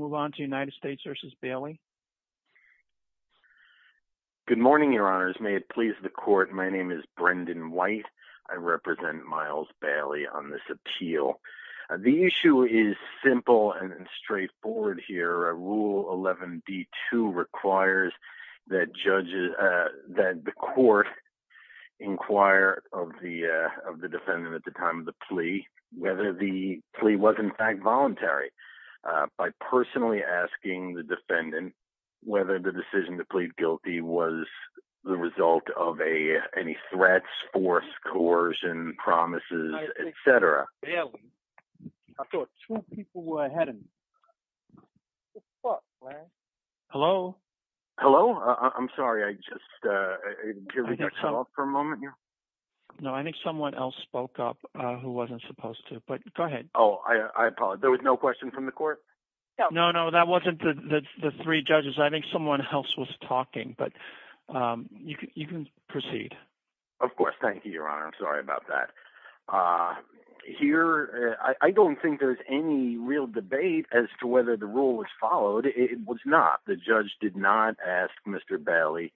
Good morning, Your Honors. May it please the Court, my name is Brendan White. I represent Miles Bailey on this appeal. The issue is simple and straightforward here. Rule 11d2 requires that the Court inquire of the defendant at the time of the plea whether the plea was in fact voluntary, by personally asking the defendant whether the decision to plead guilty was the result of any threats, force, coercion, promises, etc. Mr. Bailey, I thought two people were ahead of me. What the fuck, man? Mr. Bailey Hello? Judge Bailey Hello? I'm sorry, I just, uh, can we talk for a moment here? Mr. Bailey No, I think someone else spoke up who wasn't supposed to, but go ahead. Judge Bailey Oh, I apologize. There was no question from the Court? Mr. Bailey No, no, that wasn't the three judges. I think someone else was talking, but you can proceed. Judge Bailey Of course. Thank you, Your Honor. I'm sorry about that. Here, I don't think there's any real debate as to whether the rule was followed. It was not. The judge did not ask Mr. Bailey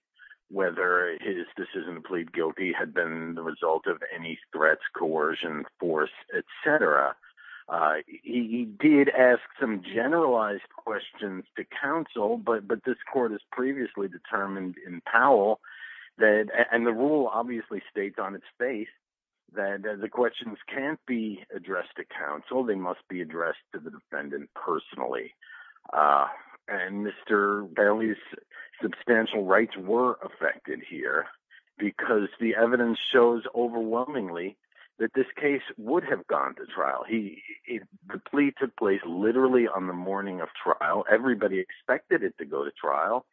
whether his decision to plead guilty had been the result of any threats, coercion, force, etc. He did ask some generalized questions to counsel, but this Court has previously determined in Powell that, and the rule obviously states on its face, that the questions can't be addressed to counsel. They must be addressed to the defendant personally, and Mr. Bailey's substantial rights were affected here because the evidence shows overwhelmingly that this case would have gone to trial. The plea took place literally on the morning of trial. Everybody expected it to go to trial,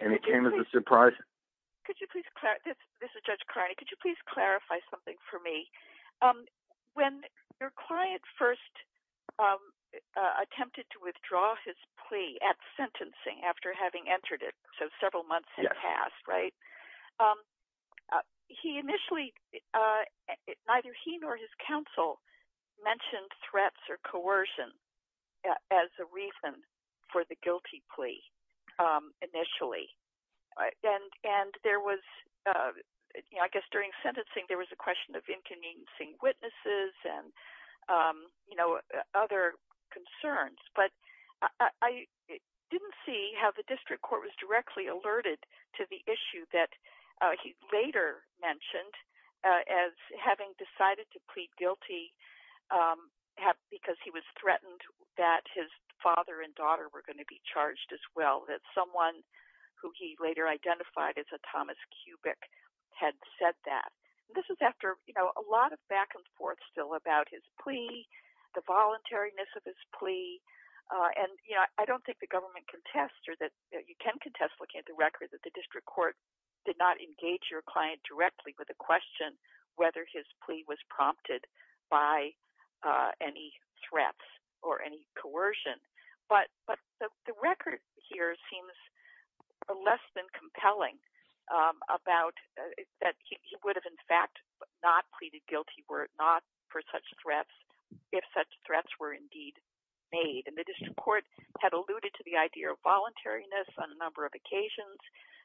and it came as a surprise. Judge Carney Could you please clarify, this is Judge Carney, could you please clarify something for me? When your client first attempted to withdraw his plea at sentencing after having entered it, so several months had passed, right? He initially, neither he nor his counsel mentioned threats or coercion as a reason for the guilty plea initially. And there was, I guess during sentencing, there was a question of inconveniencing witnesses and other concerns, but I didn't see how the District Court was directly alerted to the issue that he later mentioned as having decided to plead guilty because he was threatened that his father and daughter were going to be charged as well, that someone who he later identified as a Thomas Kubik had said that. This is after a lot of back and forth still about his plea, the voluntariness of his plea, and I don't think the government can test or that you with a question whether his plea was prompted by any threats or any coercion. But the record here seems less than compelling about that he would have in fact not pleaded guilty were not for such threats, if such threats were indeed made. And the District Court had alluded to the idea of voluntariness on a number of occasions.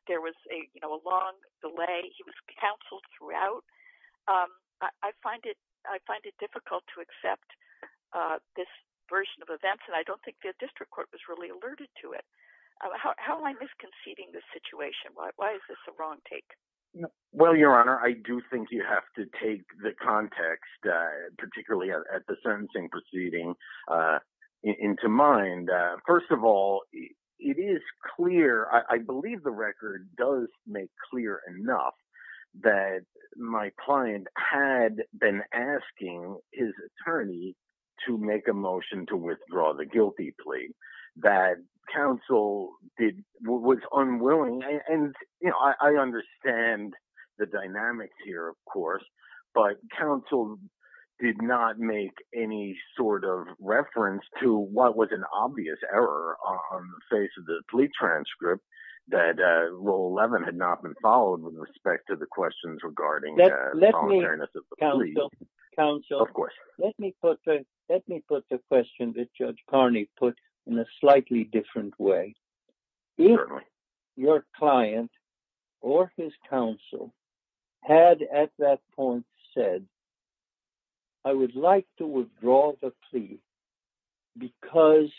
There was a long delay, he was counseled throughout. I find it difficult to accept this version of events, and I don't think the District Court was really alerted to it. How am I misconceiving this situation? Why is this a wrong take? Well, Your Honor, I do think you have to take the context, particularly at the sentencing proceeding into mind. First of all, it is clear, I believe the record does make clear enough that my client had been asking his attorney to make a motion to withdraw the guilty plea. That counsel was unwilling, and I understand the dynamics here, of course, but counsel did not make any sort of reference to what was an obvious error on the face of the plea transcript that Rule 11 had not been followed with respect to the questions regarding the voluntariness of the plea. Counsel, let me put the question that Judge Carney put in a slightly different way. If your client or his counsel had at that point said, I would like to withdraw the plea because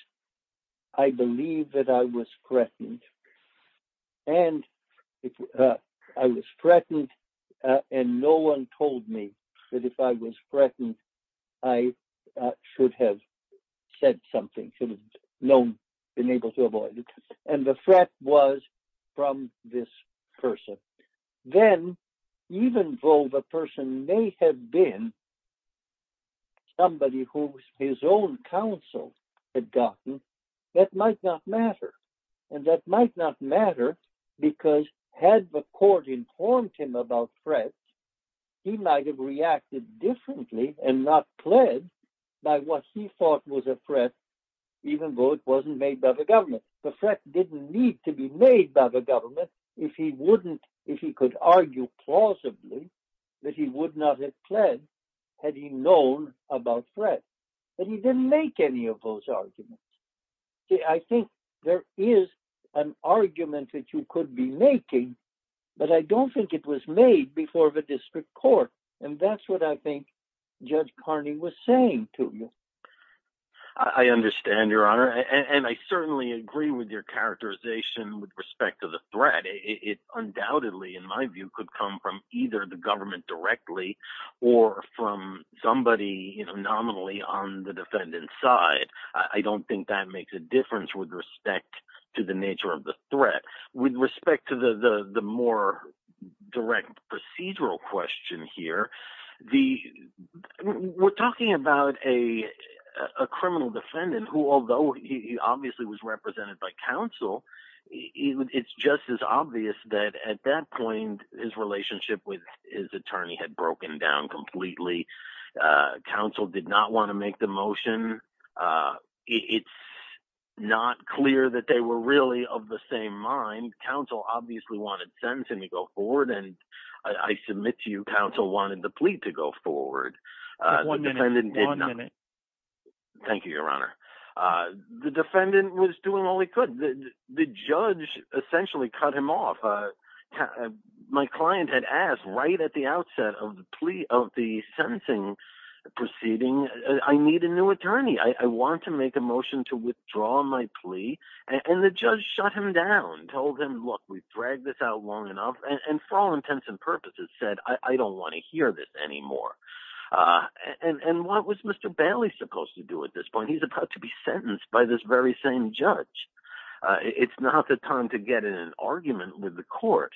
I believe that I was threatened, and I was threatened, and no one told me that if I was threatened, I should have said something, should have known, been able to avoid it, and the threat was from this person. Then, even though the person may have been somebody who his own counsel had gotten, that might not matter, and that might not matter because had the court informed him about threats, he might have reacted differently and not pled by what he thought was a threat, even though it wasn't made by the government. The threat didn't need to be made by the government if he wouldn't, if he could argue plausibly that he would not have pled had he known about threats, but he didn't make any of those arguments. I think there is an argument that you could be making, but I don't think it was made before the district court, and that's what I think Judge Carney was saying to you. I understand, Your Honor, and I certainly agree with your characterization with respect to the threat. It undoubtedly, in my view, could come from either the government directly or from somebody nominally on the defendant's side. I don't think that makes a difference with respect to the nature of the threat. With respect to the more direct procedural question here, we're talking about a criminal defendant who, although he obviously was represented by just as obvious that at that point, his relationship with his attorney had broken down completely. Counsel did not want to make the motion. It's not clear that they were really of the same mind. Counsel obviously wanted sentencing to go forward, and I submit to you, Counsel wanted the plea to go forward. The defendant did not. Thank you, Your Honor. The defendant was doing all he could. The judge essentially cut him off. My client had asked right at the outset of the plea of the sentencing proceeding, I need a new attorney. I want to make a motion to withdraw my plea, and the judge shut him down, told him, look, we've dragged this out long enough, and for all intents and purposes said, I don't want to hear this anymore. And what was Mr. Bailey supposed to do at this point? He's about to be sentenced by this very same judge. It's not the time to get in an argument with the court.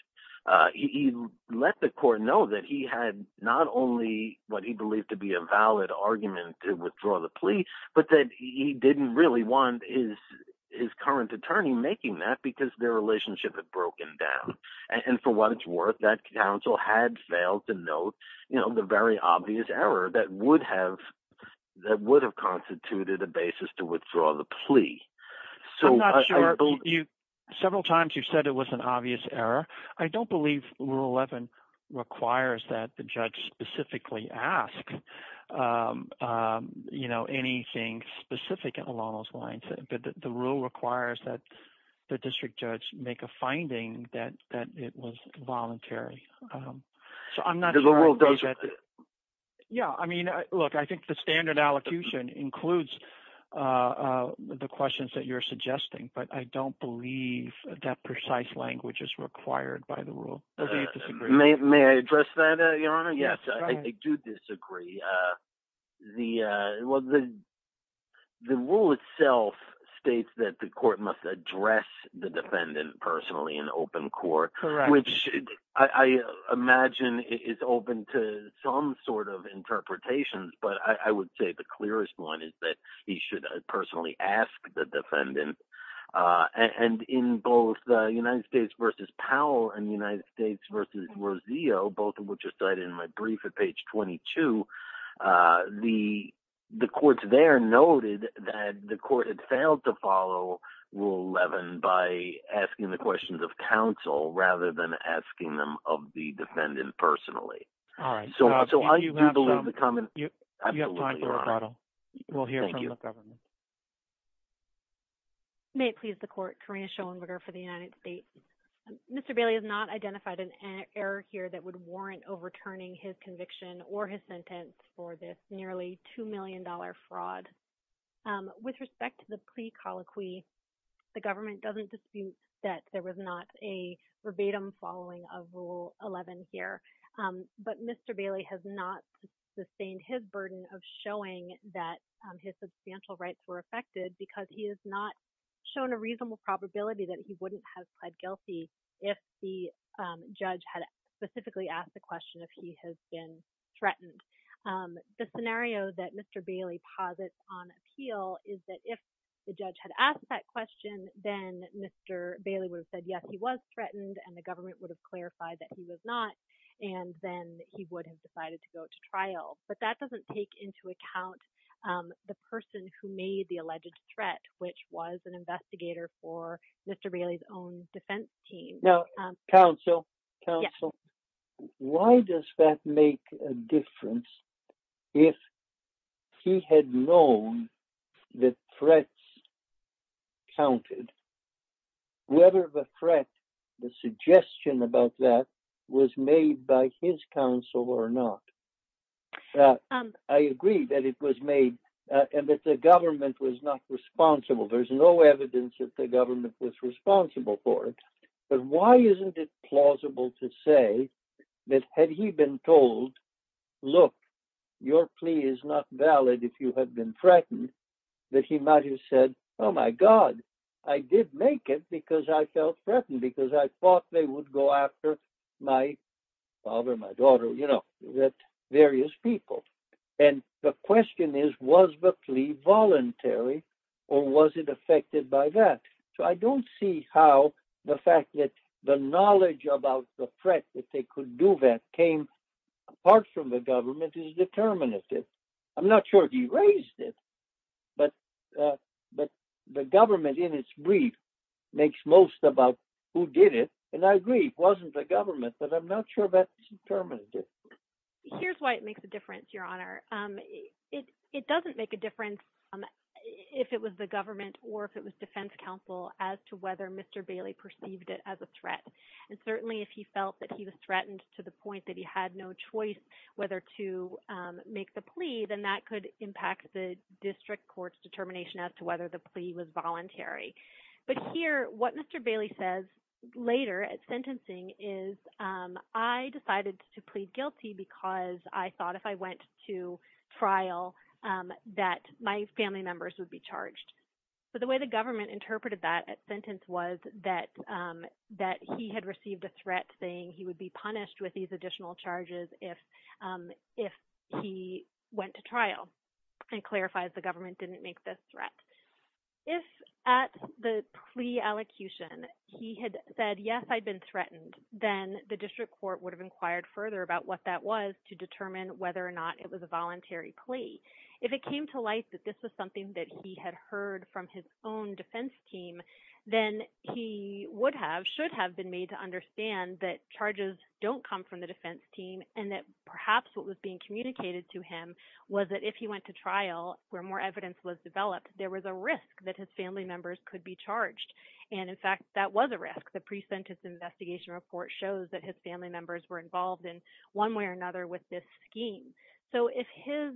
He let the court know that he had not only what he believed to be a valid argument to withdraw the plea, but that he didn't really want his current attorney making that because their relationship had broken down. And for what that would have constituted a basis to withdraw the plea. Several times you've said it was an obvious error. I don't believe rule 11 requires that the judge specifically ask, you know, anything specific along those lines, but the rule requires that the district judge make a finding that it was voluntary. So I'm not sure. Yeah, I mean, look, I think the standard allocution includes the questions that you're suggesting, but I don't believe that precise language is required by the rule. May I address that, Your Honor? Yes, I do disagree. The rule itself states that the court must address the defendant personally in open court, which I imagine is open to some sort of interpretations, but I would say the clearest one is that he should personally ask the defendant. And in both United States versus Powell and United States versus Roseo, both of which are cited in my brief at page 22, the courts there noted that the court had failed to follow rule 11 by asking the questions of counsel rather than asking them of the defendant personally. So I do believe the comment. You have time for a rebuttal. We'll hear from the government. May it please the court, Karina Schoenberger for the United States. Mr. Bailey has not identified an error here that would warrant overturning his conviction or his sentence for this nearly $2 million fraud. With respect to the plea colloquy, the government doesn't dispute that there was not a verbatim following of rule 11 here, but Mr. Bailey has not sustained his burden of showing that his substantial rights were affected because he has not shown a reasonable probability that he wouldn't have pled guilty if the judge had specifically asked the question if he has been threatened. The scenario that Mr. Bailey posits on appeal is that if the judge had asked that question, then Mr. Bailey would have said yes, he was threatened, and the government would have clarified that he was not, and then he would have decided to go to trial. But that doesn't take into account the person who made the alleged threat, which was an investigator for Mr. Bailey's own defense team. Now, counsel, counsel, why does that make a difference if he had known the threats counted, whether the threat, the suggestion about that was made by his counsel or not? Yeah, I agree that it was made, and that the government was not responsible. There's no evidence that the government was responsible for it. But why isn't it plausible to say that had he been told, look, your plea is not valid if you have been threatened, that he might have said, oh, my God, I did make it because I felt threatened because I thought they would go after my father, my daughter, you know, various people. And the question is, was the plea voluntary, or was it affected by that? So I don't see how the fact that the knowledge about the threat that they could do that came apart from the government is determinative. I'm not sure he raised it, but the government in its brief makes most about who did it, and I agree it wasn't the government, but I'm not sure that's determinative. Here's why it makes a difference, Your Honor. It doesn't make a difference if it was the government or if it was defense counsel as to whether Mr. Bailey perceived it as a threat. And certainly if he felt that he was threatened to the point that he had no choice whether to make the plea, then that could impact the district court's determination as to whether the plea was voluntary. But here, what Mr. Bailey says later at sentencing is, I decided to plead guilty because I thought if I went to trial that my family members would be charged. So the way the government interpreted that sentence was that he had received a threat saying he would be punished with these additional charges if he went to trial and clarifies the government didn't make this threat. If at the plea allocution he had said, yes, I'd been threatened, then the district court would have inquired further about what that was to determine whether or not it was a voluntary plea. If it came to light that this was something that he had heard from his own defense team, then he would have, should have been made to understand that charges don't come from the defense team and that perhaps what was being communicated to him was that if he went to trial where more evidence was developed, there was a risk that his family members could be charged. And in fact, that was a risk. The pre-sentence investigation report shows that his family members were involved in one way or another with this scheme. So if his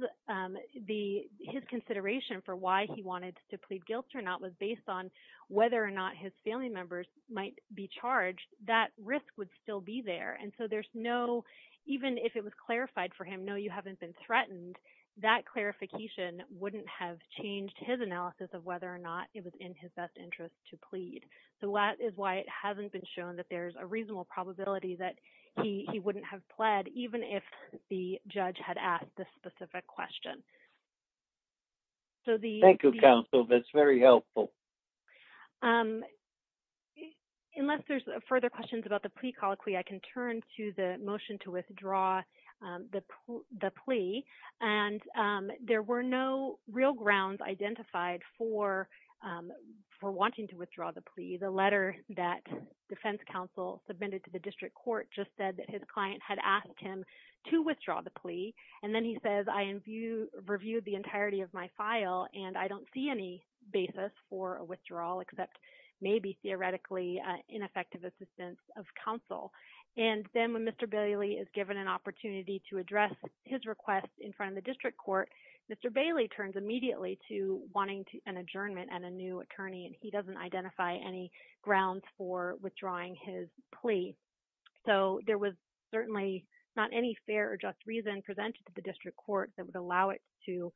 consideration for why he wanted to plead guilt or not was based on whether or not his family members might be charged, that risk would still be there. And so there's no, even if it was clarified for him, no, you haven't been threatened, that clarification wouldn't have changed his analysis of whether or not it was in his best interest to plead. So that is why it hasn't been shown that there's a reasonable probability that he wouldn't have pled even if the judge had asked this specific question. So the- Thank you, counsel. That's very helpful. Unless there's further questions about the plea colloquy, I can turn to the motion to withdraw the plea. And there were no real grounds identified for wanting to withdraw the plea. The letter that defense counsel submitted to the district court just said that his client had asked him to withdraw the plea. And then he says, I reviewed the entirety of my file, and I don't see any basis for a withdrawal except maybe theoretically ineffective assistance of counsel. And then when Mr. Bailey is given an opportunity to address his request in front of the district court, Mr. Bailey turns immediately to wanting an adjournment and a new attorney, and he doesn't identify any grounds for withdrawing his plea. So there was certainly not any fair or just reason presented to the district court that would allow it to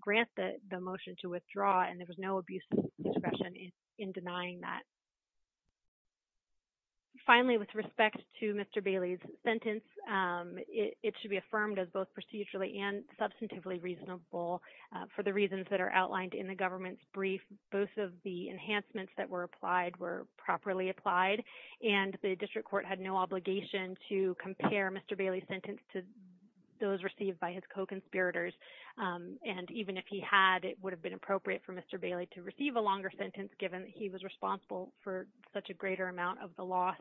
grant the motion to withdraw, and there was no abuse of discretion in denying that. Finally, with respect to Mr. Bailey's sentence, it should be affirmed as both procedurally and substantively reasonable for the reasons that are outlined in the government's brief. Both of the enhancements that were applied were properly applied, and the district court had no obligation to compare Mr. Bailey's sentence to those received by his co-conspirators. And even if he had, it would have been appropriate for Mr. Bailey to receive a longer sentence given he was responsible for such a greater amount of the loss.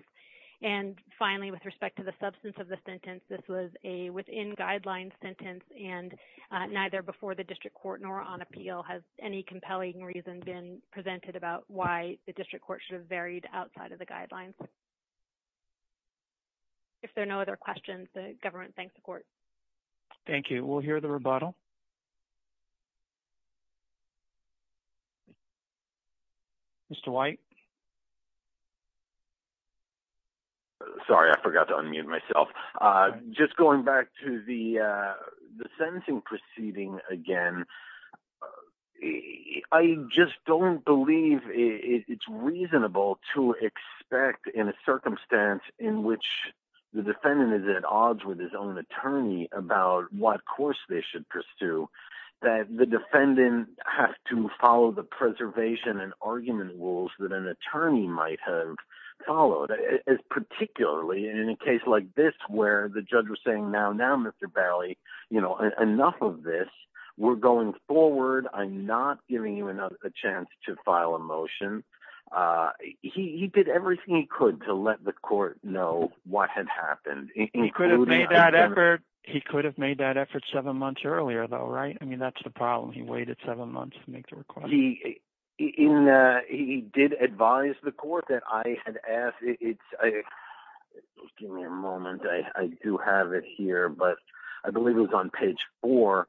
And finally, with respect to the substance of the sentence, this was a within-guideline sentence, and neither before the presented about why the district court should have varied outside of the guidelines. If there are no other questions, the government thanks the court. Thank you. We'll hear the rebuttal. Mr. White? Sorry, I forgot to unmute myself. Just going back to the sentencing proceeding again, I just don't believe it's reasonable to expect in a circumstance in which the defendant is at odds with his own attorney about what course they should pursue, that the defendant has to follow the preservation and argument rules that an attorney might have followed. Particularly in a case like this where the judge was saying, now, now, Mr. Bailey, you know, enough of this. We're going forward. I'm not giving you a chance to file a motion. He did everything he could to let the court know what had happened. He could have made that effort seven months earlier though, right? I mean, that's the problem. He waited seven months to make the request. He did advise the court that I had asked. Give me a moment. I do have it here, but I believe it was on page four,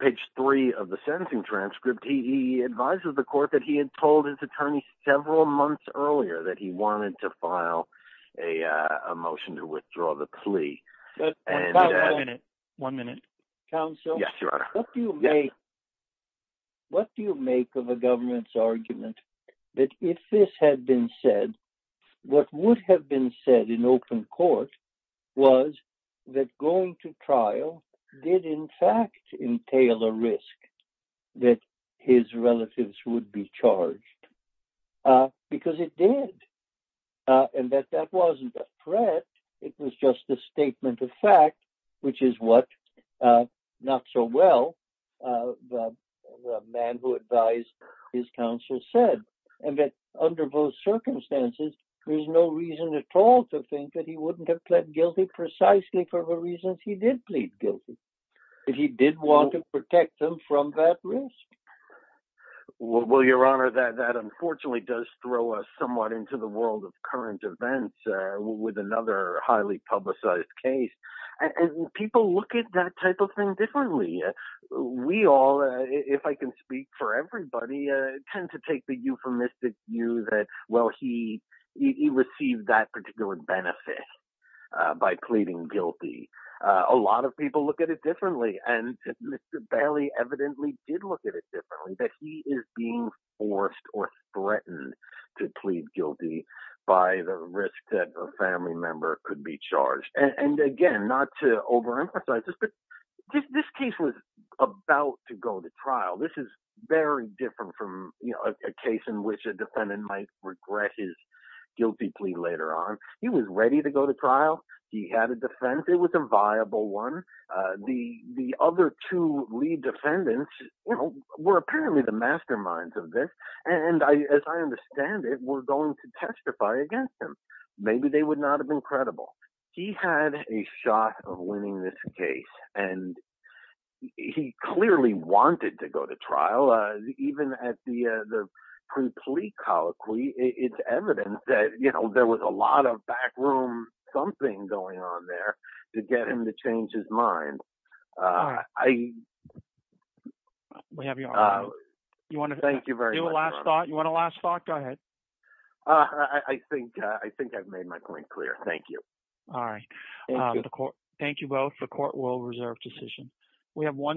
page three of the sentencing transcript. He advises the court that he had told his attorney several months earlier that he wanted to file a motion to withdraw the plea. One minute. One minute. Counsel? Yes, Your Honor. What do you make of a government's argument that if this had been said, what would have been said in open court was that going to trial did in fact entail a risk that his relatives would be charged? Because it did. And that that wasn't a threat. It was just a statement of fact, which is what, not so well, the man who advised his counselor said. And that under those circumstances, there's no reason at all to think that he wouldn't have pled guilty precisely for the reasons he did plead guilty. But he did want to protect them from that risk. Well, Your Honor, that unfortunately does throw us somewhat into the world of current events with another highly publicized case. And people look at that type of thing differently. We all, if I can speak for everybody, tend to take the euphemistic view that, well, he received that particular benefit by pleading guilty. A lot of people look at it differently. And Mr. Bailey evidently did look at it differently, that he is being forced or threatened to plead guilty by the risk that a family member could be charged. And again, not to overemphasize this, but this case was about to go to trial. This is very different from a case in which a defendant might regret his guilty plea later on. He was ready to go to trial. He had a defense. It was a viable one. The other two lead defendants were apparently the masterminds of this. And as I understand it, were going to testify against him. Maybe they would not have been credible. He had a shot of winning this case. And he clearly wanted to go to trial. Even at the pre-plea colloquy, it's evidence that, you know, there was a lot of back room something going on there to get him to change his mind. We have your honor. You want to do a last thought? You want a last thought? Go ahead. I think I've made my point clear. Thank you. All right. Thank you both. The court will reserve decision.